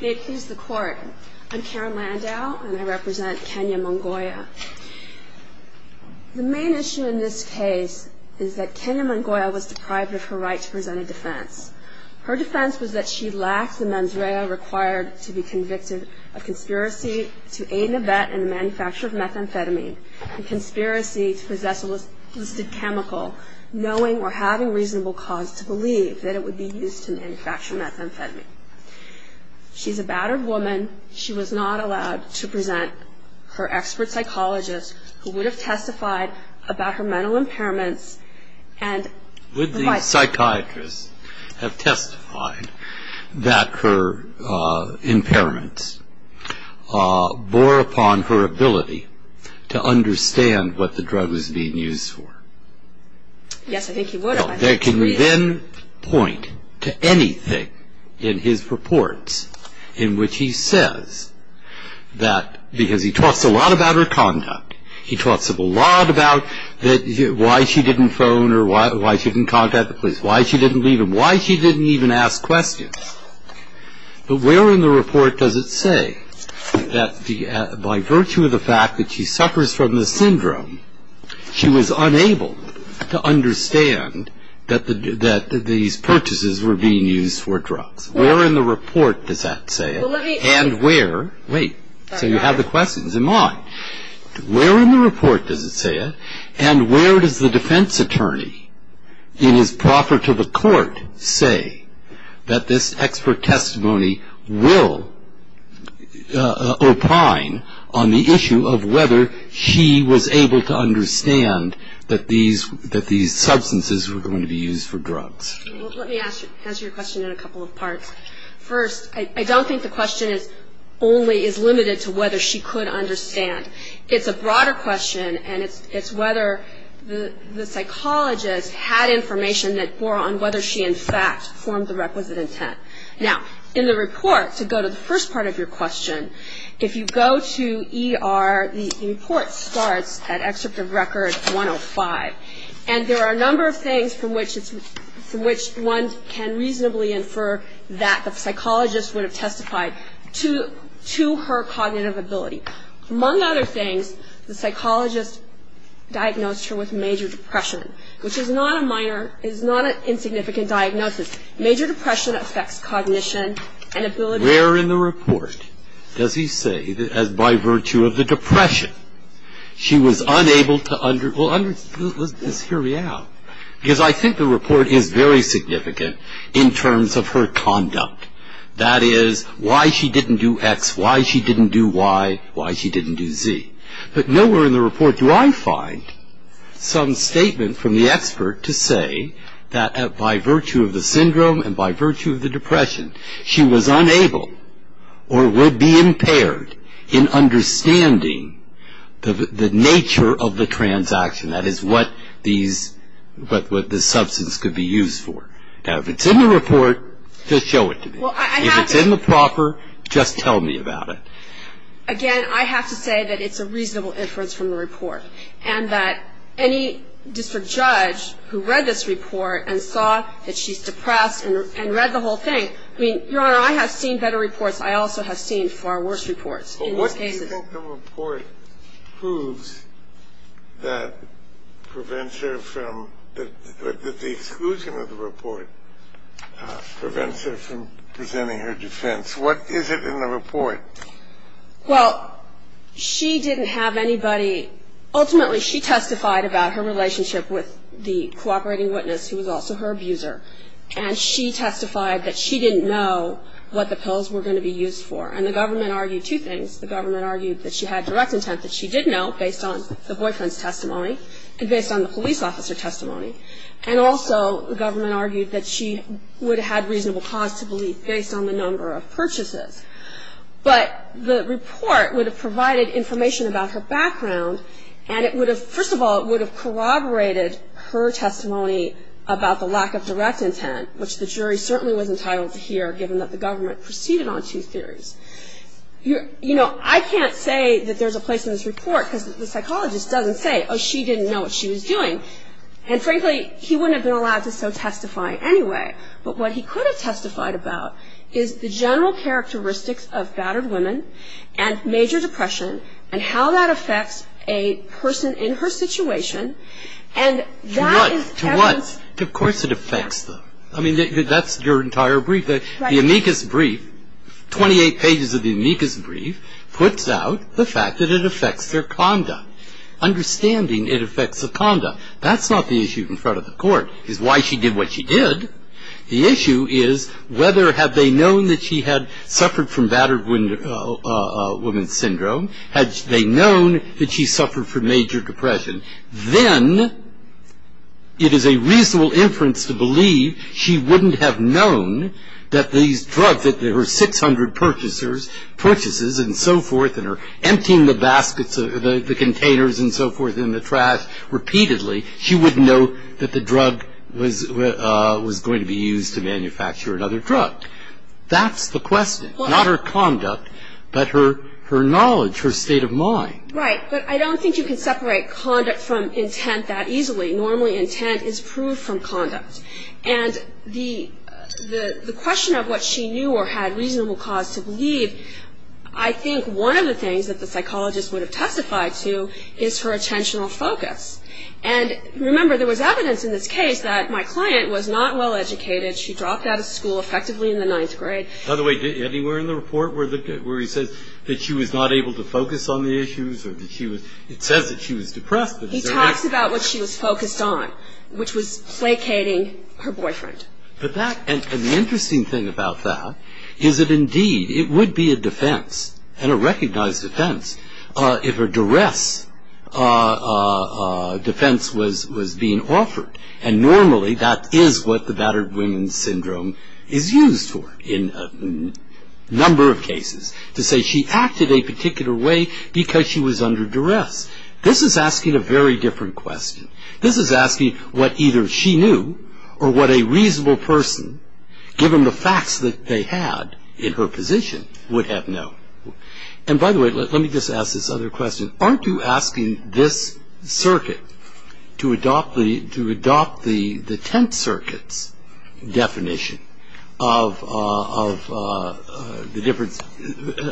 May it please the Court, I'm Karen Landau, and I represent Kenia Munguia. The main issue in this case is that Kenia Munguia was deprived of her right to present a defense. Her defense was that she lacked the mens rea required to be convicted of conspiracy to aid and abet in the manufacture of methamphetamine and conspiracy to possess a listed chemical, knowing or having reasonable cause to believe that it would be used to manufacture methamphetamine. She's a battered woman. She was not allowed to present. Her expert psychologist, who would have testified about her mental impairments, and Would the psychiatrist have testified that her impairments bore upon her ability to understand what the drug was being used for? Yes, I think he would have. Can you then point to anything in his reports in which he says that because he talks a lot about her conduct, he talks a lot about why she didn't phone or why she didn't contact the police, why she didn't leave him, why she didn't even ask questions? But where in the report does it say that by virtue of the fact that she suffers from this syndrome, she was unable to understand that these purchases were being used for drugs? Where in the report does that say it? And where, wait, so you have the questions, am I. Where in the report does it say it? And where does the defense attorney in his proffer to the court say that this expert testimony will opine on the issue of whether she was able to understand that these substances were going to be used for drugs? Let me answer your question in a couple of parts. First, I don't think the question only is limited to whether she could understand. It's a broader question, and it's whether the psychologist had information that bore on whether she, in fact, formed the requisite intent. Now, in the report, to go to the first part of your question, if you go to ER, the report starts at Excerpt of Record 105, and there are a number of things from which it's, from which one can reasonably infer that the psychologist would have testified to her cognitive ability. Among other things, the psychologist diagnosed her with major depression, which is not a minor, is not an insignificant diagnosis. Major depression affects cognition and ability. Where in the report does he say that by virtue of the depression, she was unable to, well, let's hear me out, because I think the report is very significant in terms of her conduct. That is, why she didn't do X, why she didn't do Y, why she didn't do Z. But nowhere in the report do I find some statement from the expert to say that by virtue of the syndrome and by virtue of the depression, she was unable or would be impaired in understanding the nature of the transaction. That is what these, what the substance could be used for. Now, if it's in the report, just show it to me. If it's in the proper, just tell me about it. Again, I have to say that it's a reasonable inference from the report, and that any district judge who read this report and saw that she's depressed and read the whole thing, I mean, Your Honor, I have seen better reports. I also have seen far worse reports in this case. But what do you think the report proves that prevents her from, that the exclusion of the report prevents her from presenting her defense? What is it in the report? Well, she didn't have anybody. Ultimately, she testified about her relationship with the cooperating witness, who was also her abuser. And she testified that she didn't know what the pills were going to be used for. And the government argued two things. The government argued that she had direct intent that she did know, based on the boyfriend's testimony and based on the police officer testimony. And also the government argued that she would have had reasonable cause to believe, based on the number of purchases. But the report would have provided information about her background, and it would have, first of all, it would have corroborated her testimony about the lack of direct intent, which the jury certainly was entitled to hear, given that the government proceeded on two theories. You know, I can't say that there's a place in this report, because the psychologist doesn't say, oh, she didn't know what she was doing. And frankly, he wouldn't have been allowed to so testify anyway. But what he could have testified about is the general characteristics of battered women and major depression and how that affects a person in her situation. And that is evidence. To what? Of course it affects them. I mean, that's your entire brief. The amicus brief, 28 pages of the amicus brief, puts out the fact that it affects their conduct, understanding it affects the conduct. That's not the issue in front of the court, is why she did what she did. The issue is whether have they known that she had suffered from battered women's syndrome? Had they known that she suffered from major depression? Then it is a reasonable inference to believe she wouldn't have known that these drugs, that her 600 purchases and so forth, and her emptying the baskets, the containers and so forth, and the trash repeatedly, she wouldn't know that the drug was going to be used to manufacture another drug. That's the question. Not her conduct, but her knowledge, her state of mind. Right. But I don't think you can separate conduct from intent that easily. Normally intent is proved from conduct. And the question of what she knew or had reasonable cause to believe, I think one of the things that the psychologist would have testified to is her attentional focus. And, remember, there was evidence in this case that my client was not well educated. She dropped out of school effectively in the ninth grade. By the way, anywhere in the report where he says that she was not able to focus on the issues or that she was, it says that she was depressed. He talks about what she was focused on, which was placating her boyfriend. But that, and the interesting thing about that is that, indeed, it would be a defense and a recognized defense if a duress defense was being offered. And normally that is what the battered women's syndrome is used for in a number of cases, to say she acted a particular way because she was under duress. This is asking a very different question. This is asking what either she knew or what a reasonable person, given the facts that they had in her position, would have known. And, by the way, let me just ask this other question. Aren't you asking this circuit to adopt the tenth circuit's definition of the difference,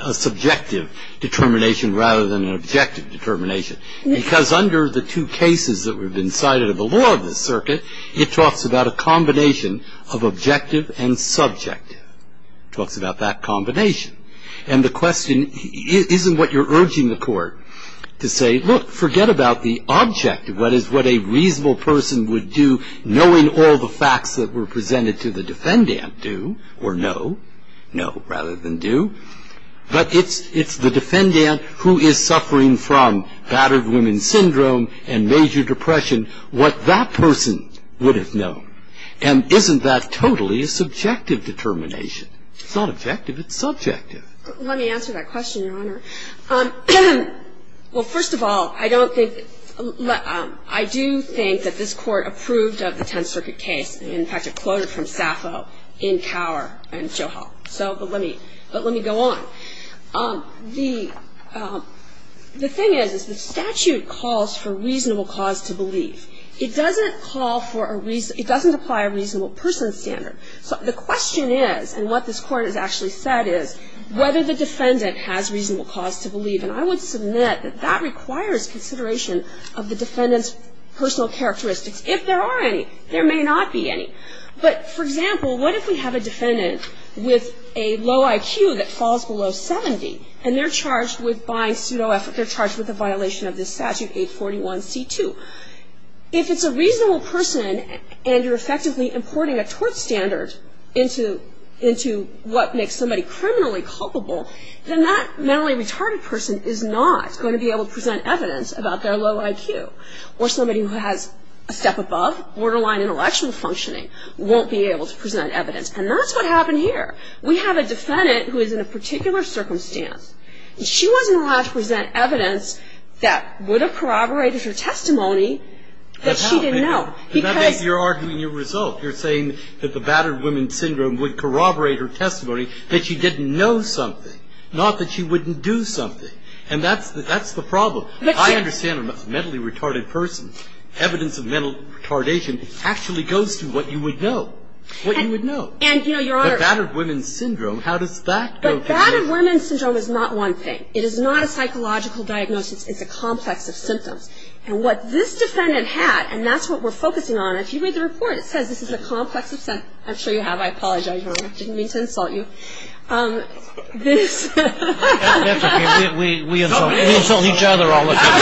a subjective determination rather than an objective determination? Because under the two cases that have been cited of the law of this circuit, it talks about a combination of objective and subjective. It talks about that combination. And the question isn't what you're urging the court to say, look, forget about the objective, what is what a reasonable person would do knowing all the facts that were presented to the defendant. Do or no? No rather than do. But it's the defendant who is suffering from battered women's syndrome and major depression, what that person would have known. And isn't that totally a subjective determination? It's not objective. It's subjective. Let me answer that question, Your Honor. Well, first of all, I don't think ‑‑ I do think that this Court approved of the tenth circuit case. In fact, it quoted from Saffo in Cower and Choho. But let me go on. The thing is, the statute calls for reasonable cause to believe. It doesn't call for a reason ‑‑ it doesn't apply a reasonable person standard. So the question is, and what this Court has actually said is, whether the defendant has reasonable cause to believe. And I would submit that that requires consideration of the defendant's personal characteristics. If there are any, there may not be any. But, for example, what if we have a defendant with a low IQ that falls below 70, and they're charged with buying ‑‑ they're charged with a violation of this statute, 841C2. If it's a reasonable person and you're effectively importing a tort standard into what makes somebody criminally culpable, then that mentally retarded person is not going to be able to present evidence about their low IQ. Or somebody who has a step above, borderline intellectual functioning, won't be able to present evidence. And that's what happened here. We have a defendant who is in a particular circumstance, and she wasn't allowed to present evidence that would have corroborated her testimony that she didn't know. Because ‑‑ But how? You're arguing your result. You're saying that the battered woman syndrome would corroborate her testimony that she didn't know something, not that she wouldn't do something. And that's the problem. I understand a mentally retarded person. Evidence of mental retardation actually goes to what you would know. What you would know. And, you know, Your Honor ‑‑ The battered woman syndrome, how does that go to ‑‑ The battered woman syndrome is not one thing. It is not a psychological diagnosis. It's a complex of symptoms. And what this defendant had, and that's what we're focusing on. If you read the report, it says this is a complex of symptoms. I'm sure you have. I apologize, Your Honor. I didn't mean to insult you. This ‑‑ That's okay. We insult each other all the time.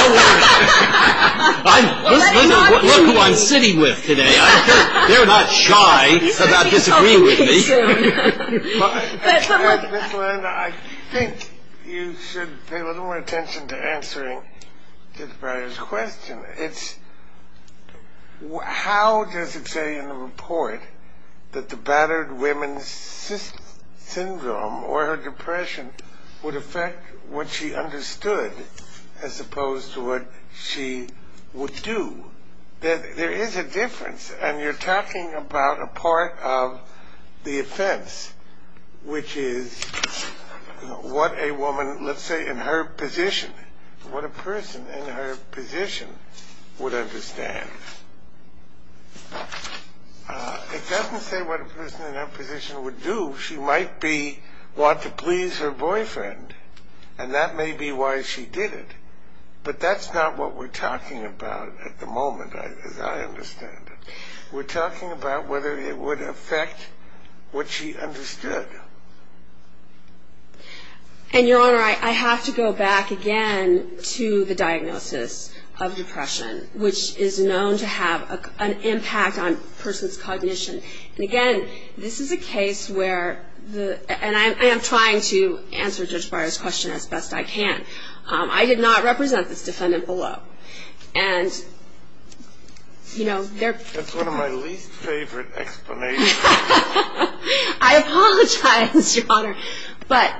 Don't worry. Look who I'm sitting with today. They're not shy about disagreeing with me. Ms. Landau, I think you should pay a little more attention to answering this various question. How does it say in the report that the battered woman's syndrome or her depression would affect what she understood as opposed to what she would do? There is a difference, and you're talking about a part of the offense, which is what a woman, let's say in her position, what a person in her position would understand. It doesn't say what a person in her position would do. She might be want to please her boyfriend, and that may be why she did it. But that's not what we're talking about at the moment as I understand it. We're talking about whether it would affect what she understood. And, Your Honor, I have to go back again to the diagnosis of depression, which is known to have an impact on a person's cognition. And, again, this is a case where the ‑‑ and I am trying to answer Judge Breyer's question as best I can. I did not represent this defendant below. And, you know, there ‑‑ That's one of my least favorite explanations. I apologize, Your Honor. But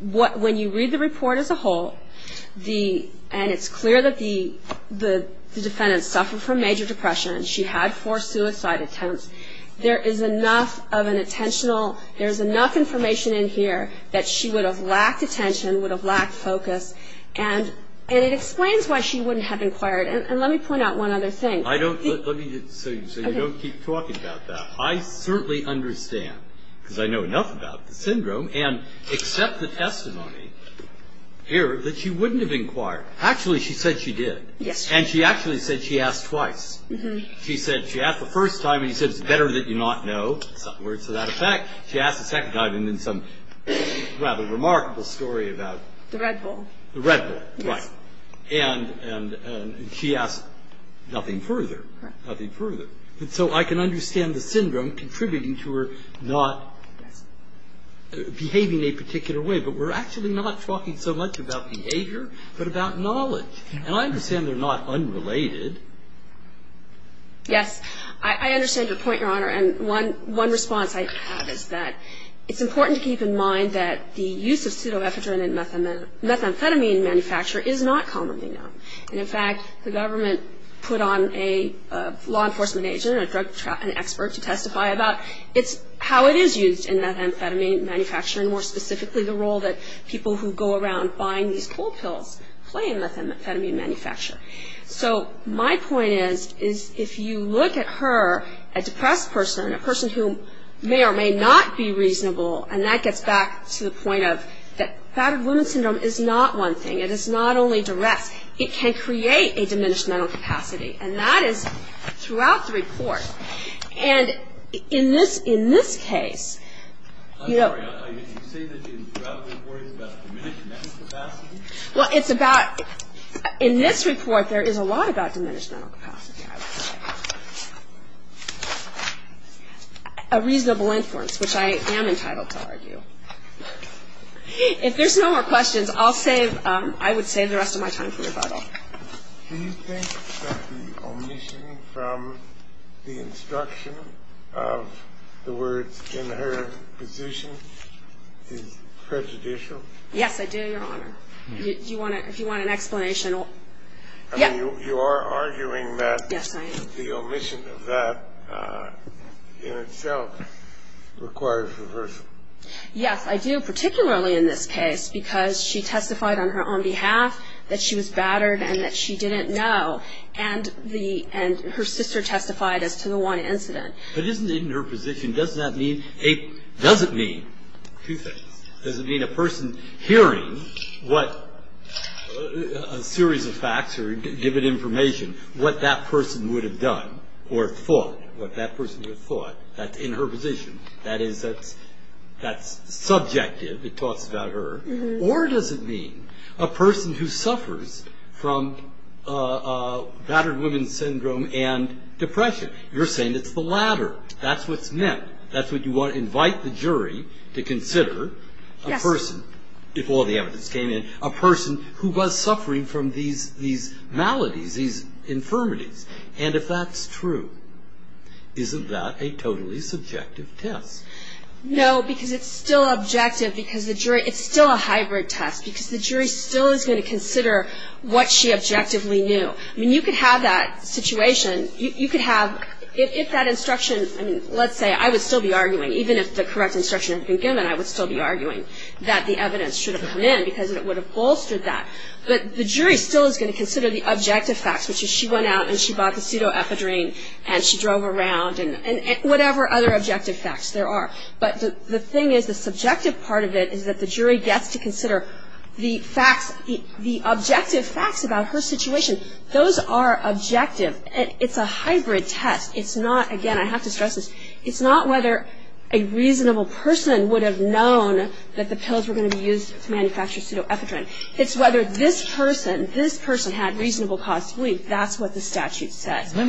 when you read the report as a whole, and it's clear that the defendant suffered from major depression. She had four suicide attempts. There is enough of an attentional ‑‑ there's enough information in here that she would have lacked attention, would have lacked focus, and it explains why she wouldn't have inquired. And let me point out one other thing. So you don't keep talking about that. I certainly understand, because I know enough about the syndrome, and accept the testimony here that she wouldn't have inquired. Actually, she said she did. And she actually said she asked twice. She said she asked the first time, and she said, it's better that you not know. Words without effect. She asked the second time, and then some rather remarkable story about ‑‑ The Red Bull. The Red Bull, right. And she asked nothing further. Nothing further. So I can understand the syndrome contributing to her not behaving a particular way, but we're actually not talking so much about behavior, but about knowledge. And I understand they're not unrelated. Yes. I understand your point, Your Honor, and one response I have is that it's important to keep in mind that the use of pseudoephedrine in methamphetamine manufacture is not commonly known. And, in fact, the government put on a law enforcement agent, a drug expert, to testify about. It's how it is used in methamphetamine manufacture, and more specifically the role that people who go around buying these cold pills play in methamphetamine manufacture. So my point is, if you look at her, a depressed person, a person who may or may not be reasonable, and that gets back to the point of the fact that women's syndrome is not one thing. It is not only duress. It can create a diminished mental capacity, and that is throughout the report. And in this case ‑‑ I'm sorry. You say that throughout the report it's about diminished mental capacity? Well, it's about ‑‑ in this report there is a lot about diminished mental capacity, I would say. A reasonable influence, which I am entitled to argue. If there's no more questions, I'll save ‑‑ I would save the rest of my time for rebuttal. Do you think that the omission from the instruction of the words in her position is prejudicial? Yes, I do, Your Honor. If you want an explanation ‑‑ I mean, you are arguing that the omission of that in itself requires reversal. Yes, I do, particularly in this case, because she testified on her own behalf that she was battered and that she didn't know, and her sister testified as to the one incident. But isn't it in her position, doesn't that mean ‑‑ doesn't mean two things. What that person would have done or thought, what that person would have thought, that's in her position. That's subjective, it talks about her. Or does it mean a person who suffers from battered women's syndrome and depression? You're saying it's the latter. That's what's meant. That's what you want to invite the jury to consider. Yes. If all the evidence came in, a person who was suffering from these maladies, these infirmities. And if that's true, isn't that a totally subjective test? No, because it's still objective, because the jury ‑‑ it's still a hybrid test, because the jury still is going to consider what she objectively knew. I mean, you could have that situation, you could have ‑‑ if that instruction, I mean, let's say I would still be arguing, even if the correct instruction had been given, I would still be arguing that the evidence should have come in, because it would have bolstered that. But the jury still is going to consider the objective facts, which is she went out and she bought the pseudoepidurine and she drove around, and whatever other objective facts there are. But the thing is, the subjective part of it is that the jury gets to consider the facts, the objective facts about her situation. Those are objective. It's a hybrid test. It's not, again, I have to stress this, it's not whether a reasonable person would have known that the pills were going to be used to manufacture pseudoepidurine. It's whether this person, this person had reasonable cause to believe that's what the statute says. Let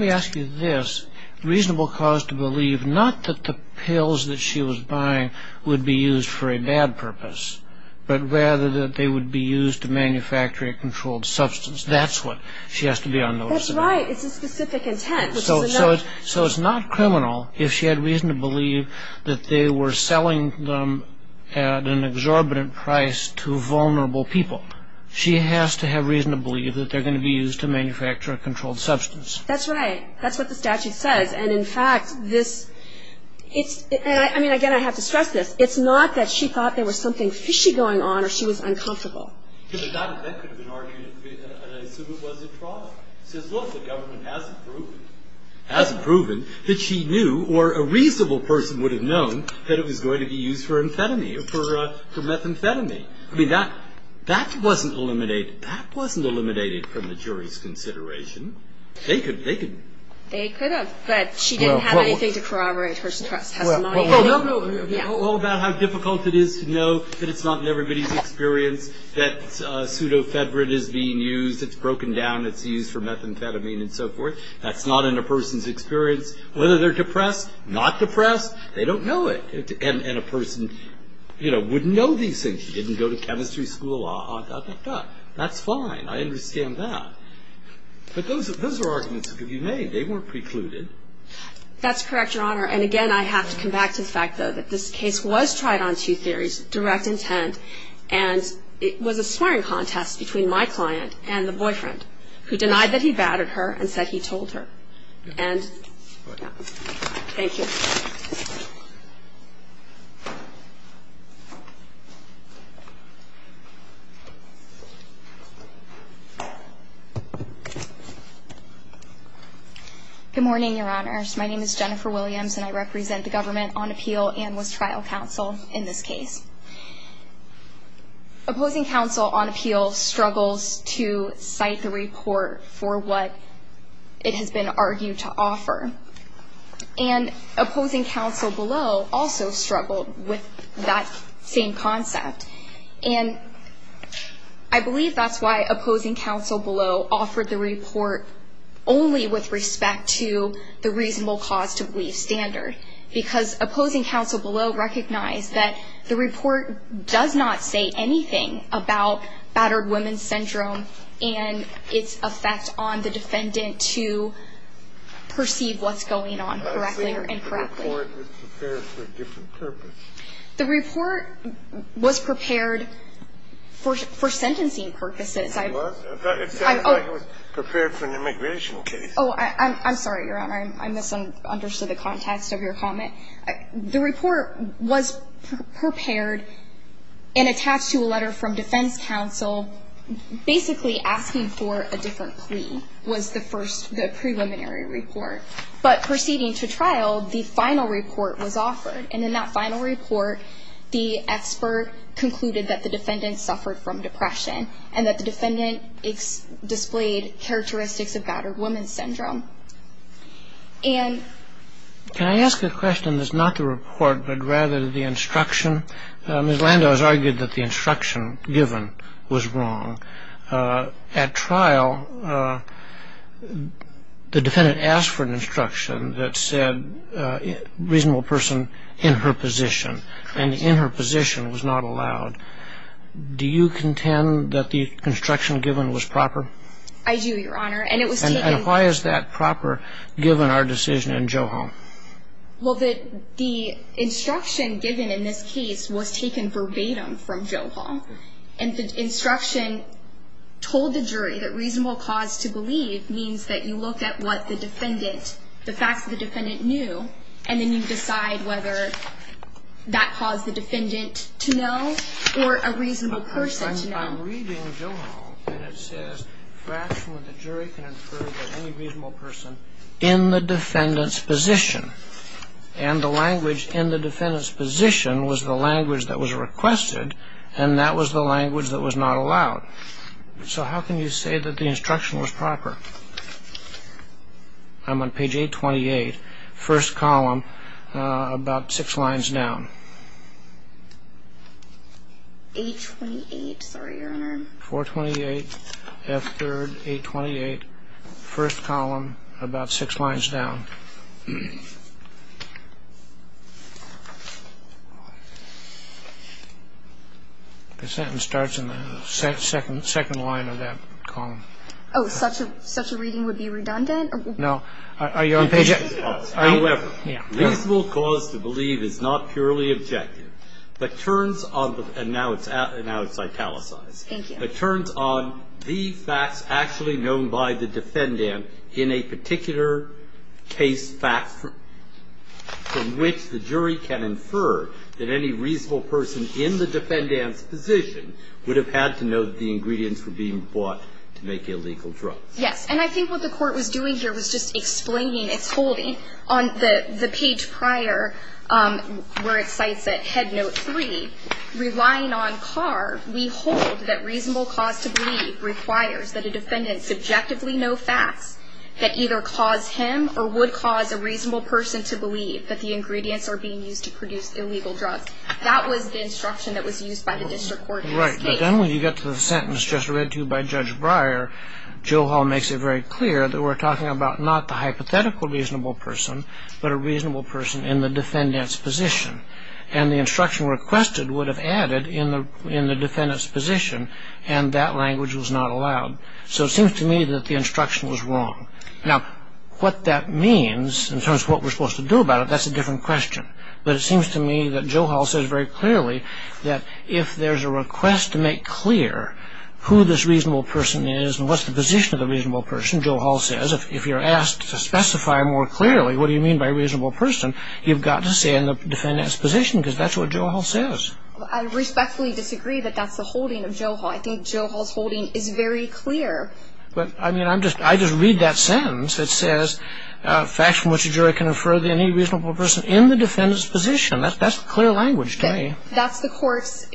me ask you this, reasonable cause to believe, not that the pills that she was buying would be used for a bad purpose, but rather that they would be used to manufacture a controlled substance. That's what she has to be unnoticed about. Right, it's a specific intent. So it's not criminal if she had reason to believe that they were selling them at an exorbitant price to vulnerable people. She has to have reason to believe that they're going to be used to manufacture a controlled substance. That's right. That's what the statute says. And, in fact, this, it's, I mean, again, I have to stress this, it's not that she thought there was something fishy going on or she was uncomfortable. But that could have been argued, and I assume it was a fraud. It says, look, the government hasn't proven, hasn't proven, that she knew or a reasonable person would have known that it was going to be used for amphetamine, for methamphetamine. I mean, that, that wasn't eliminated, that wasn't eliminated from the jury's consideration. They could, they could. They could have, but she didn't have anything to corroborate her testimony. Well, no, no, no. All about how difficult it is to know that it's not in everybody's experience that pseudofedrate is being used. It's broken down, it's used for methamphetamine and so forth. That's not in a person's experience. Whether they're depressed, not depressed, they don't know it. And a person, you know, wouldn't know these things. She didn't go to chemistry school, blah, blah, blah. That's fine. I understand that. But those are arguments that could be made. They weren't precluded. That's correct, Your Honor. And, again, I have to come back to the fact, though, that this case was tried on two theories, direct intent, and it was a swearing contest between my client and the boyfriend, who denied that he batted her and said he told her. And, yeah. Thank you. Good morning, Your Honors. My name is Jennifer Williams, and I represent the Government on Appeal and was trial counsel in this case. Opposing counsel on appeal struggles to cite the report for what it has been argued to offer. And opposing counsel below also struggled with that same concept. And I believe that's why opposing counsel below offered the report only with respect to the reasonable cause to believe standard, because opposing counsel below recognized that the report does not say anything about battered women's syndrome and its effect on the defendant to perceive what's going on correctly or incorrectly. The report was prepared for a different purpose. The report was prepared for sentencing purposes. It sounds like it was prepared for an immigration case. Oh, I'm sorry, Your Honor. I misunderstood the context of your comment. The report was prepared and attached to a letter from defense counsel, basically asking for a different plea was the first, the preliminary report. But proceeding to trial, the final report was offered. And in that final report, the expert concluded that the defendant suffered from depression and that the defendant displayed characteristics of battered women's syndrome. And the defendant asked for an instruction that said reasonable person in her position. Can I ask a question that's not the report but rather the instruction? Ms. Landau has argued that the instruction given was wrong. At trial, the defendant asked for an instruction that said reasonable person in her position. And in her position was not allowed. Do you contend that the instruction given was proper? I do, Your Honor. And it was taken. And why is that proper given our decision in Joe Hall? Well, the instruction given in this case was taken verbatim from Joe Hall. And the instruction told the jury that reasonable cause to believe means that you look at what the defendant, the facts that the defendant knew, and then you decide whether that caused the defendant to know or a reasonable person to know. I'm reading Joe Hall, and it says, fraction of the jury can infer that any reasonable person in the defendant's position. And the language in the defendant's position was the language that was requested, and that was the language that was not allowed. So how can you say that the instruction was proper? I'm on page 828, first column, about six lines down. 828, sorry, Your Honor. 428, F3rd, 828, first column, about six lines down. The sentence starts in the second line of that column. Oh, such a reading would be redundant? No. Are you on page 828? However, reasonable cause to believe is not purely objective, but turns on the – and now it's italicized. Thank you. It turns on the facts actually known by the defendant in a particular case fact from which the jury can infer that any reasonable person in the defendant's position would have had to know that the ingredients were being bought to make illegal drugs. Yes. And I think what the court was doing here was just explaining its holding. On the page prior, where it cites it, Head Note 3, relying on Carr, we hold that reasonable cause to believe requires that a defendant subjectively know facts that either cause him or would cause a reasonable person to believe that the ingredients are being used to produce illegal drugs. That was the instruction that was used by the district court in this case. Right, but then when you get to the sentence just read to you by Judge Breyer, Joe Hall makes it very clear that we're talking about not the hypothetical reasonable person, but a reasonable person in the defendant's position. And the instruction requested would have added in the defendant's position, and that language was not allowed. So it seems to me that the instruction was wrong. Now, what that means in terms of what we're supposed to do about it, that's a different question. But it seems to me that Joe Hall says very clearly that if there's a request to make clear who this reasonable person is and what's the position of the reasonable person, Joe Hall says if you're asked to specify more clearly what do you mean by reasonable person, you've got to say in the defendant's position because that's what Joe Hall says. I respectfully disagree that that's the holding of Joe Hall. I think Joe Hall's holding is very clear. But, I mean, I just read that sentence. It says facts from which a jury can infer that any reasonable person in the defendant's position. That's clear language to me. That's the court's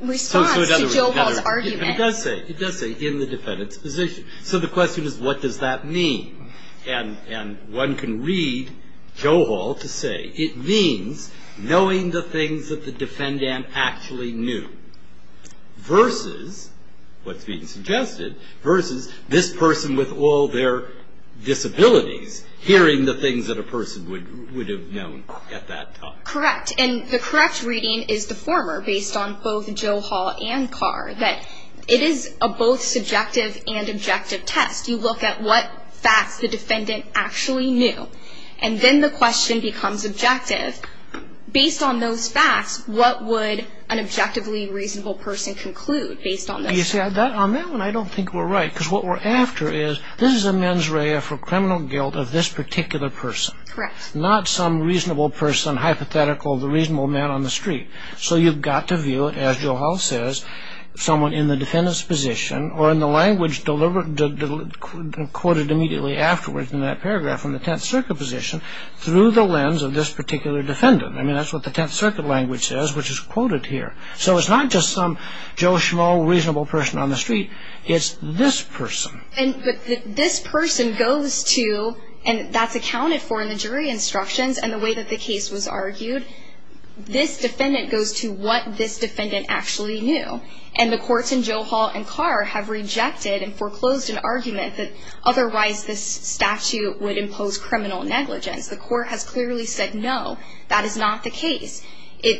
response to Joe Hall's argument. It does say, it does say in the defendant's position. So the question is what does that mean? And one can read Joe Hall to say it means knowing the things that the defendant actually knew versus, what's being suggested, versus this person with all their disabilities hearing the things that a person would have known at that time. Correct. And the correct reading is the former based on both Joe Hall and Carr, that it is a both subjective and objective test. You look at what facts the defendant actually knew. And then the question becomes objective. Based on those facts, what would an objectively reasonable person conclude based on those facts? You see, on that one, I don't think we're right. Because what we're after is this is a mens rea for criminal guilt of this particular person. Correct. Not some reasonable person, hypothetical, the reasonable man on the street. So you've got to view it, as Joe Hall says, someone in the defendant's position, or in the language quoted immediately afterwards in that paragraph, from the Tenth Circuit position, through the lens of this particular defendant. I mean, that's what the Tenth Circuit language says, which is quoted here. So it's not just some Joe Schmo reasonable person on the street. It's this person. But this person goes to, and that's accounted for in the jury instructions and the way that the case was argued, this defendant goes to what this defendant actually knew. And the courts in Joe Hall and Carr have rejected and foreclosed an argument that otherwise this statute would impose criminal negligence. The court has clearly said no, that is not the case.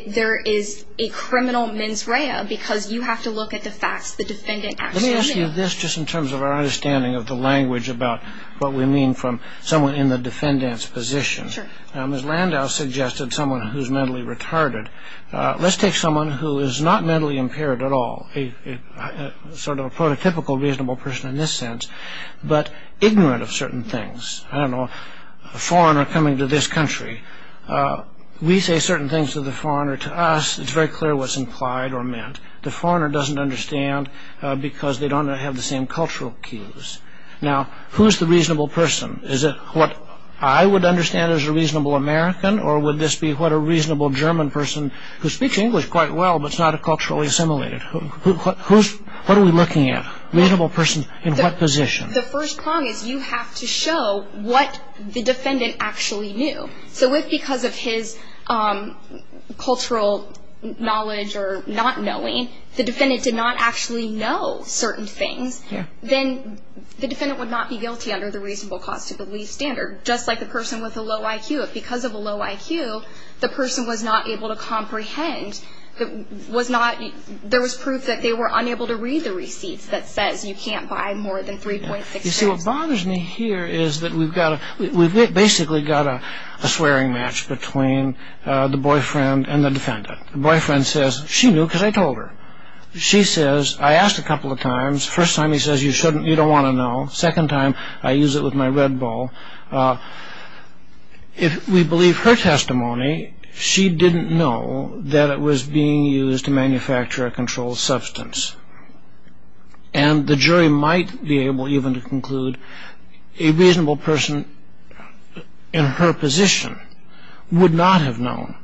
There is a criminal mens rea because you have to look at the facts the defendant actually knew. Let me ask you this just in terms of our understanding of the language about what we mean from someone in the defendant's position. Sure. Ms. Landau suggested someone who's mentally retarded. Let's take someone who is not mentally impaired at all, sort of a prototypical reasonable person in this sense, but ignorant of certain things. I don't know, a foreigner coming to this country. We say certain things to the foreigner, to us it's very clear what's implied or meant. The foreigner doesn't understand because they don't have the same cultural cues. Now, who's the reasonable person? Is it what I would understand as a reasonable American or would this be what a reasonable German person who speaks English quite well but is not culturally assimilated? What are we looking at? Reasonable person in what position? The first prong is you have to show what the defendant actually knew. So if because of his cultural knowledge or not knowing, the defendant did not actually know certain things, then the defendant would not be guilty under the reasonable cause to believe standard, just like the person with a low IQ. If because of a low IQ, the person was not able to comprehend, there was proof that they were unable to read the receipt that says you can't buy more than 3.6 grams. You see, what bothers me here is that we've basically got a swearing match between the boyfriend and the defendant. The boyfriend says, she knew because I told her. She says, I asked a couple of times. First time he says you shouldn't, you don't want to know. Second time, I use it with my red ball. If we believe her testimony, she didn't know that it was being used to manufacture a controlled substance. And the jury might be able even to conclude a reasonable person in her position would not have known.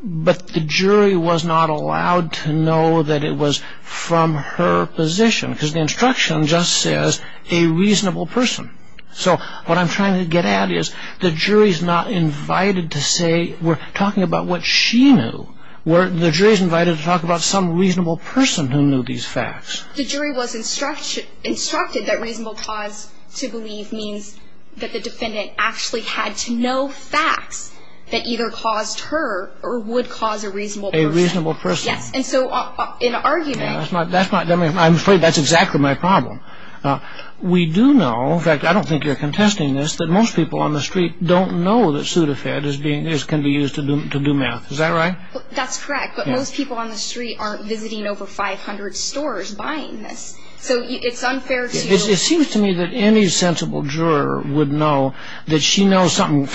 But the jury was not allowed to know that it was from her position because the instruction just says a reasonable person. So what I'm trying to get at is the jury's not invited to say, we're talking about what she knew. The jury's invited to talk about some reasonable person who knew these facts. The jury was instructed that reasonable cause to believe means that the defendant actually had to know facts that either caused her or would cause a reasonable person. A reasonable person. Yes, and so in arguing... I'm afraid that's exactly my problem. We do know, in fact I don't think you're contesting this, that most people on the street don't know that Sudafed can be used to do meth. Is that right? That's correct. But most people on the street aren't visiting over 500 stores buying this. So it's unfair to... It seems to me that any sensible juror would know that she knows something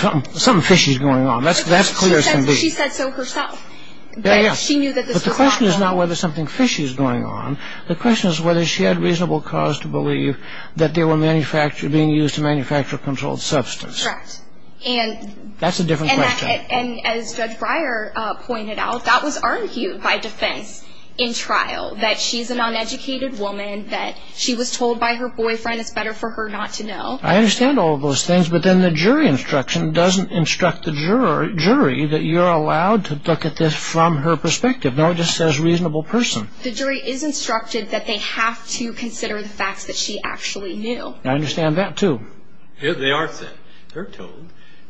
fishy is going on. That's clear as can be. She said so herself. Yes, but the question is not whether something fishy is going on. The question is whether she had reasonable cause to believe that they were being used to manufacture a controlled substance. Correct. That's a different question. And as Judge Breyer pointed out, that was argued by defense in trial, that she's an uneducated woman, that she was told by her boyfriend it's better for her not to know. I understand all of those things, but then the jury instruction doesn't instruct the jury that you're allowed to look at this from her perspective. No, it just says reasonable person. The jury is instructed that they have to consider the facts that she actually knew. I understand that, too. They are said. They're told,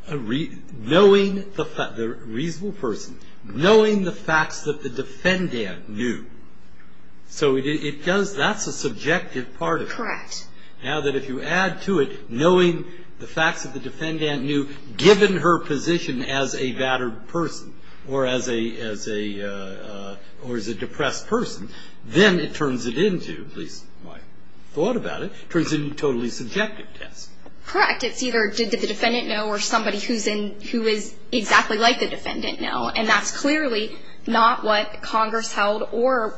knowing the reasonable person, knowing the facts that the defendant knew. So that's a subjective part of it. Correct. Now that if you add to it, knowing the facts that the defendant knew, given her position as a battered person or as a depressed person, then it turns it into, at least my thought about it, turns it into a totally subjective test. Correct. It's either did the defendant know or somebody who is exactly like the defendant know, and that's clearly not what Congress held or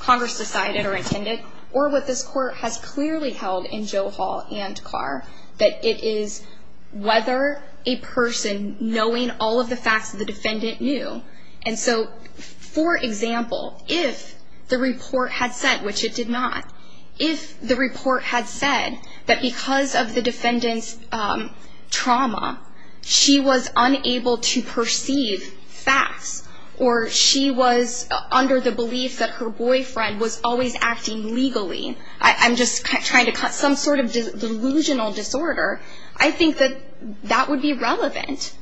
Congress decided or intended or what this Court has clearly held in Joe Hall and Carr, that it is whether a person knowing all of the facts the defendant knew. And so, for example, if the report had said, which it did not, if the report had said that because of the defendant's trauma, she was unable to perceive facts or she was under the belief that her boyfriend was always acting legally. I'm just trying to cut some sort of delusional disorder. I think that that would be relevant.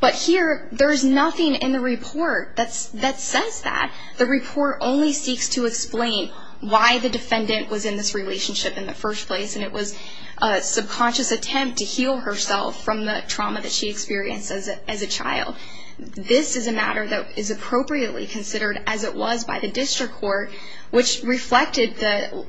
But here, there is nothing in the report that says that. The report only seeks to explain why the defendant was in this relationship in the first place, and it was a subconscious attempt to heal herself from the trauma that she experienced as a child. This is a matter that is appropriately considered as it was by the district court, which reflected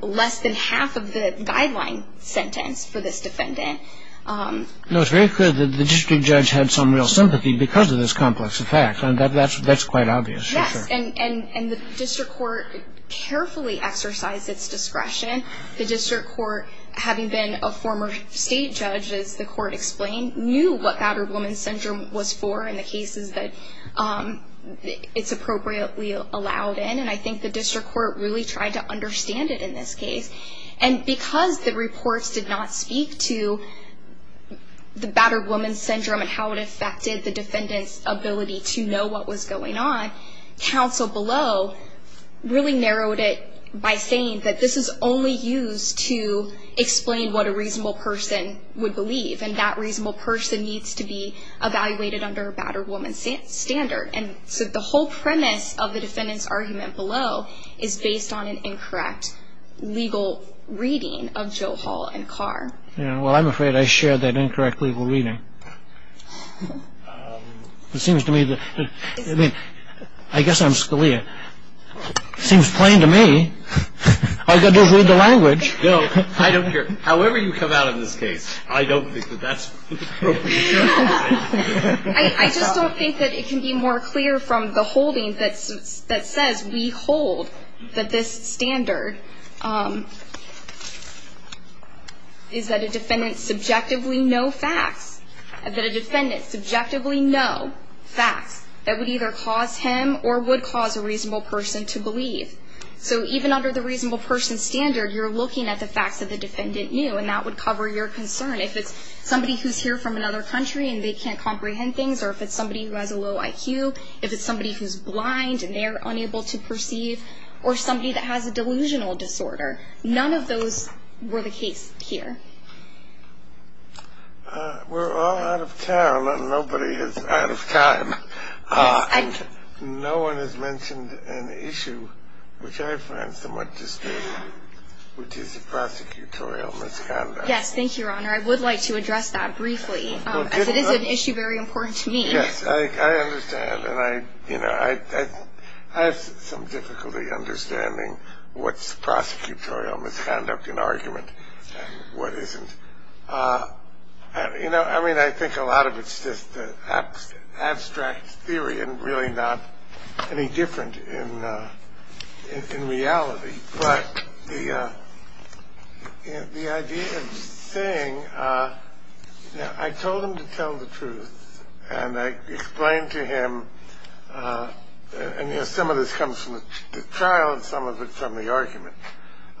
less than half of the guideline sentence for this defendant. No, it's very clear that the district judge had some real sympathy because of this complex effect, and that's quite obvious. Yes, and the district court carefully exercised its discretion. The district court, having been a former state judge, as the court explained, knew what battered woman syndrome was for and the cases that it's appropriately allowed in. I think the district court really tried to understand it in this case. Because the reports did not speak to the battered woman syndrome and how it affected the defendant's ability to know what was going on, counsel below really narrowed it by saying that this is only used to explain what a reasonable person would believe, and that reasonable person needs to be evaluated under a battered woman standard. And so the whole premise of the defendant's argument below is based on an incorrect legal reading of Joe Hall and Carr. Well, I'm afraid I shared that incorrect legal reading. It seems to me that, I mean, I guess I'm Scalia. It seems plain to me. I've got to read the language. No, I don't care. However you come out of this case, I don't think that that's appropriate. I just don't think that it can be more clear from the holding that says we hold that this standard is that a defendant subjectively know facts, that a defendant subjectively know facts that would either cause him or would cause a reasonable person to believe. So even under the reasonable person standard, you're looking at the facts that the defendant knew, and that would cover your concern. If it's somebody who's here from another country and they can't comprehend things, or if it's somebody who has a low IQ, if it's somebody who's blind and they're unable to perceive, or somebody that has a delusional disorder. None of those were the case here. We're all out of time, and nobody is out of time. No one has mentioned an issue which I find somewhat disturbing, which is the prosecutorial misconduct. Yes, thank you, Your Honor. I would like to address that briefly, as it is an issue very important to me. Yes, I understand. And I, you know, I have some difficulty understanding what's prosecutorial misconduct in argument and what isn't. You know, I mean, I think a lot of it's just abstract theory and really not any different in reality. But the idea of saying, you know, I told him to tell the truth, and I explained to him, and, you know, some of this comes from the trial and some of it from the argument.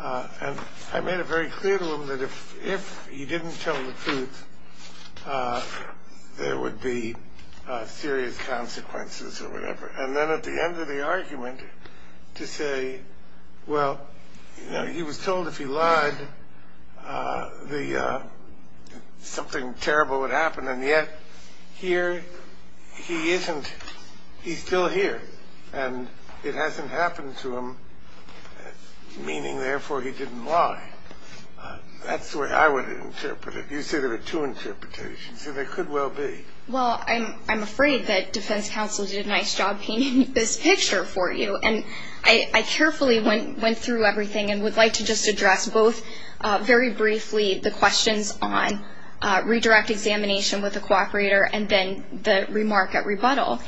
And I made it very clear to him that if he didn't tell the truth, there would be serious consequences or whatever. And then at the end of the argument to say, well, you know, he was told if he lied, something terrible would happen, and yet here he isn't. He's still here, and it hasn't happened to him, meaning, therefore, he didn't lie. That's the way I would interpret it. You said there were two interpretations, and there could well be. Well, I'm afraid that defense counsel did a nice job painting this picture for you. And I carefully went through everything and would like to just address both very briefly the questions on redirect examination with a cooperator and then the remark at rebuttal.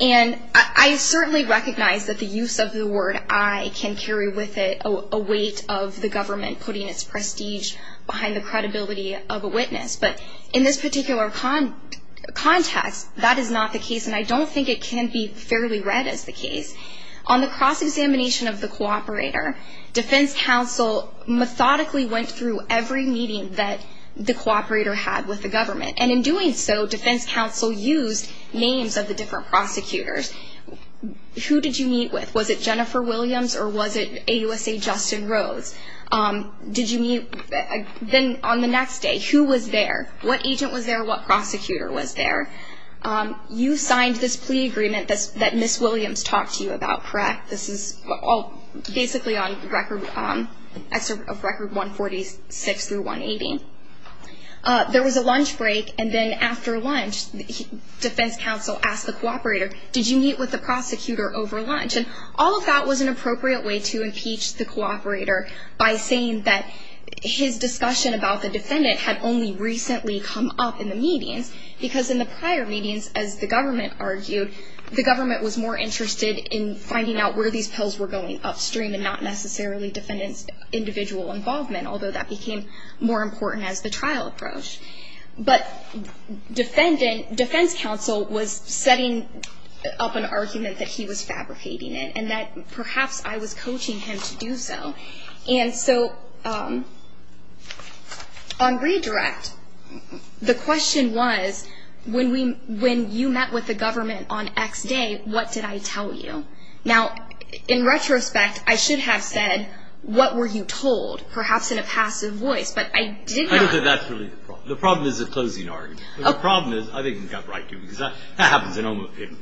And I certainly recognize that the use of the word I can carry with it a weight of the government putting its prestige behind the credibility of a witness. But in this particular context, that is not the case, and I don't think it can be fairly read as the case. On the cross-examination of the cooperator, defense counsel methodically went through every meeting that the cooperator had with the government. And in doing so, defense counsel used names of the different prosecutors. Who did you meet with? Was it Jennifer Williams or was it AUSA Justin Rhodes? Did you meet? Then on the next day, who was there? What agent was there? What prosecutor was there? You signed this plea agreement that Ms. Williams talked to you about, correct? This is all basically on record of Record 146 through 180. There was a lunch break, and then after lunch, defense counsel asked the cooperator, did you meet with the prosecutor over lunch? All of that was an appropriate way to impeach the cooperator by saying that his discussion about the defendant had only recently come up in the meetings, because in the prior meetings, as the government argued, the government was more interested in finding out where these pills were going upstream and not necessarily defendants' individual involvement, although that became more important as the trial approached. But defense counsel was setting up an argument that he was fabricating it and that perhaps I was coaching him to do so. And so on redirect, the question was, when you met with the government on X day, what did I tell you? Now, in retrospect, I should have said, what were you told? Perhaps in a passive voice, but I did not. That's really the problem. The problem is the closing argument. The problem is, I think you've got it right, too, because that happens in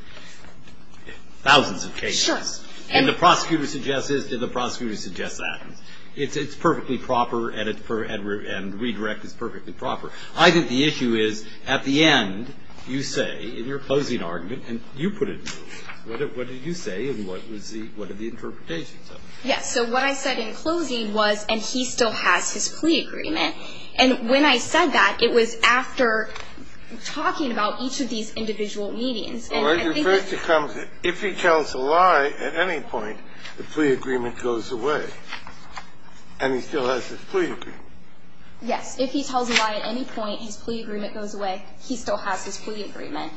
thousands of cases. Sure. And the prosecutor suggests this, and the prosecutor suggests that. It's perfectly proper, and redirect is perfectly proper. I think the issue is, at the end, you say, in your closing argument, and you put it in motion, what did you say, and what are the interpretations of it? Yes, so what I said in closing was, and he still has his plea agreement, and when I said that, it was after talking about each of these individual meetings. And I think that's the problem. If he tells a lie at any point, the plea agreement goes away. And he still has his plea agreement. Yes. If he tells a lie at any point, his plea agreement goes away. He still has his plea agreement.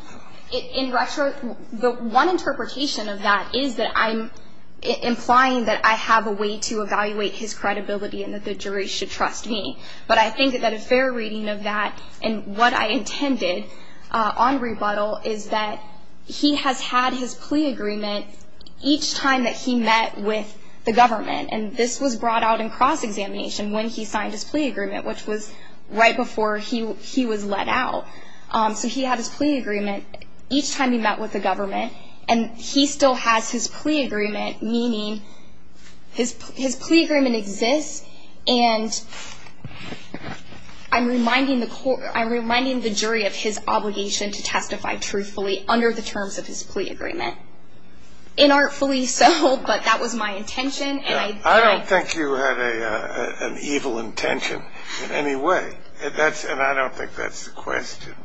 In retrospect, the one interpretation of that is that I'm implying that I have a way to evaluate his credibility and that the jury should trust me. But I think that a fair reading of that, and what I intended on rebuttal, is that he has had his plea agreement each time that he met with the government, and this was brought out in cross-examination when he signed his plea agreement, which was right before he was let out. So he had his plea agreement each time he met with the government, and he still has his plea agreement, meaning his plea agreement exists, and I'm reminding the jury of his obligation to testify truthfully under the terms of his plea agreement. Inartfully so, but that was my intention. I don't think you had an evil intention in any way, and I don't think that's the question.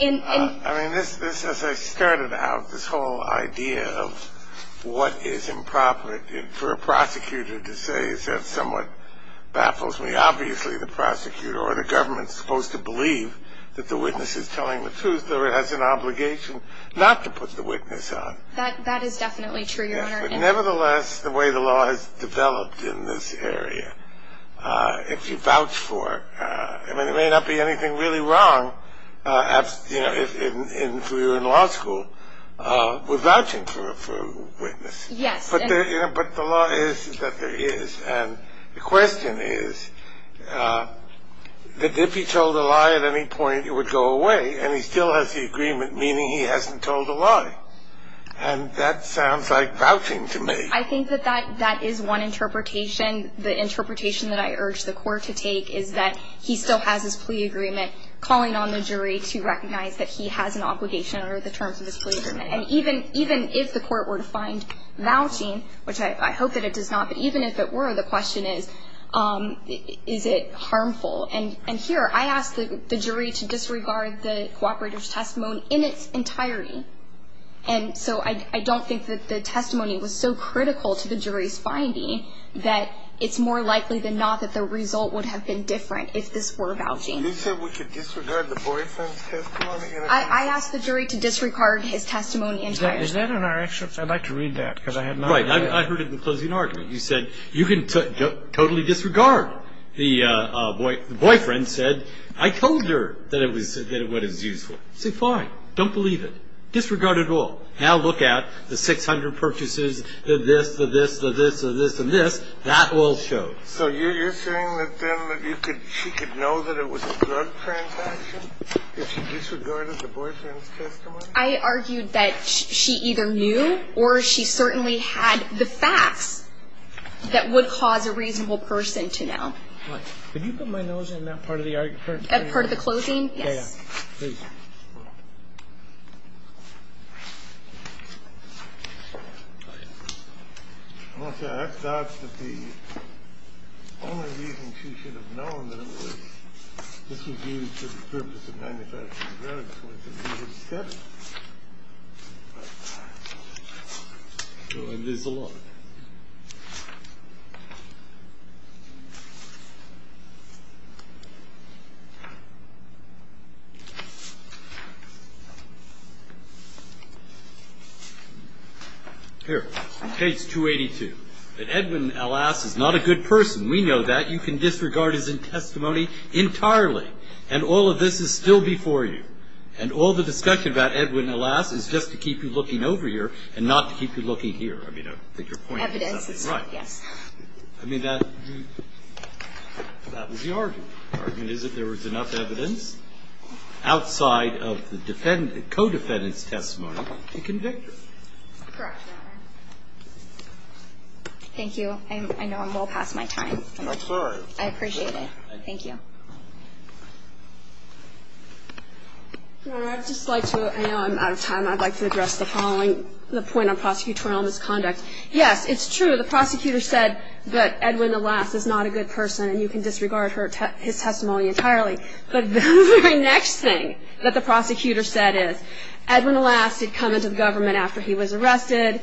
I mean, this, as I started out, this whole idea of what is improper for a prosecutor to say is somewhat baffles me. Obviously, the prosecutor or the government is supposed to believe that the witness is telling the truth, but it has an obligation not to put the witness on. That is definitely true, Your Honor. Nevertheless, the way the law has developed in this area, if you vouch for it, I mean, there may not be anything really wrong if we were in law school with vouching for a witness. Yes. But the law is that there is, and the question is that if he told a lie at any point, it would go away, and he still has the agreement, meaning he hasn't told a lie, and that sounds like vouching to me. I think that that is one interpretation. The interpretation that I urge the court to take is that he still has his plea agreement, calling on the jury to recognize that he has an obligation under the terms of his plea agreement. And even if the court were to find vouching, which I hope that it does not, but even if it were, the question is, is it harmful? And here, I ask the jury to disregard the cooperator's testimony in its entirety. And so I don't think that the testimony was so critical to the jury's finding that it's more likely than not that the result would have been different if this were vouching. You said we could disregard the boyfriend's testimony? I asked the jury to disregard his testimony entirely. Is that in our actions? I'd like to read that because I have no idea. Right. I heard it in the closing argument. You said, you can totally disregard. The boyfriend said, I told her that it was useful. I said, fine. Don't believe it. Disregard it all. Now look at the 600 purchases, the this, the this, the this, the this, and this. That all shows. So you're saying that then she could know that it was a drug transaction if she disregarded the boyfriend's testimony? I argued that she either knew or she certainly had the facts that would cause a reasonable person to know. Could you put my nose in that part of the argument? That part of the closing? Yes. Thank you. I thought that the only reason she should have known that this was used for the purpose of manufacturing drugs was that he had said it. Here's the law. Here. Page 282. That Edwin, alas, is not a good person. We know that. You can disregard his testimony entirely. And all of this is still before you. And all the discussion about Edwin, alas, is just to keep you looking over here and not to keep you looking here. I mean, I think your point is absolutely right. Evidence, yes. I mean, that was the argument. The argument is that there was enough evidence outside of the co-defendant's testimony to convict her. Correct, Your Honor. Thank you. I know I'm well past my time. I'm sorry. I appreciate it. Thank you. Your Honor, I'd just like to, I know I'm out of time. I'd like to address the following, the point on prosecutorial misconduct. Yes, it's true. The prosecutor said that Edwin, alas, is not a good person. And you can disregard his testimony entirely. But the very next thing that the prosecutor said is, Edwin, alas, did come into government after he was arrested,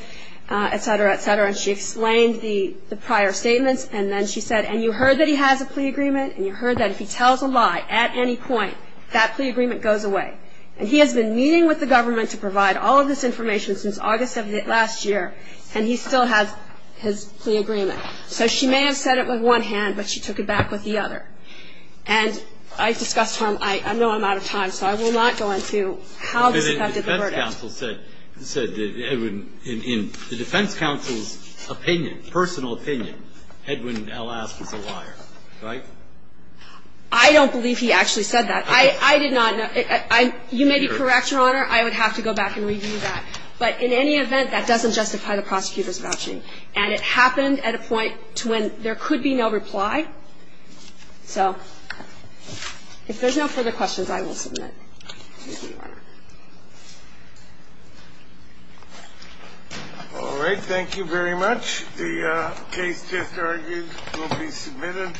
et cetera, et cetera. And she explained the prior statements. And then she said, and you heard that he has a plea agreement. And you heard that if he tells a lie at any point, that plea agreement goes away. And he has been meeting with the government to provide all of this information since August of last year, and he still has his plea agreement. So she may have said it with one hand, but she took it back with the other. And I discussed with him, I know I'm out of time, so I will not go into how this affected the verdict. The defense counsel said that Edwin, in the defense counsel's opinion, personal opinion, Edwin, alas, was a liar. Right? I don't believe he actually said that. I did not. You may be correct, Your Honor. I would have to go back and review that. But in any event, that doesn't justify the prosecutor's vouching. And it happened at a point to when there could be no reply. So if there's no further questions, I will submit. Thank you. All right. Thank you very much. The case just argued will be submitted.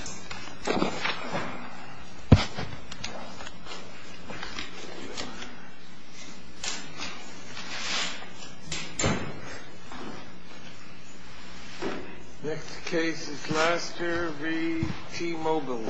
Next case is Lasker v. T-Mobile. Thank you, Your Honor.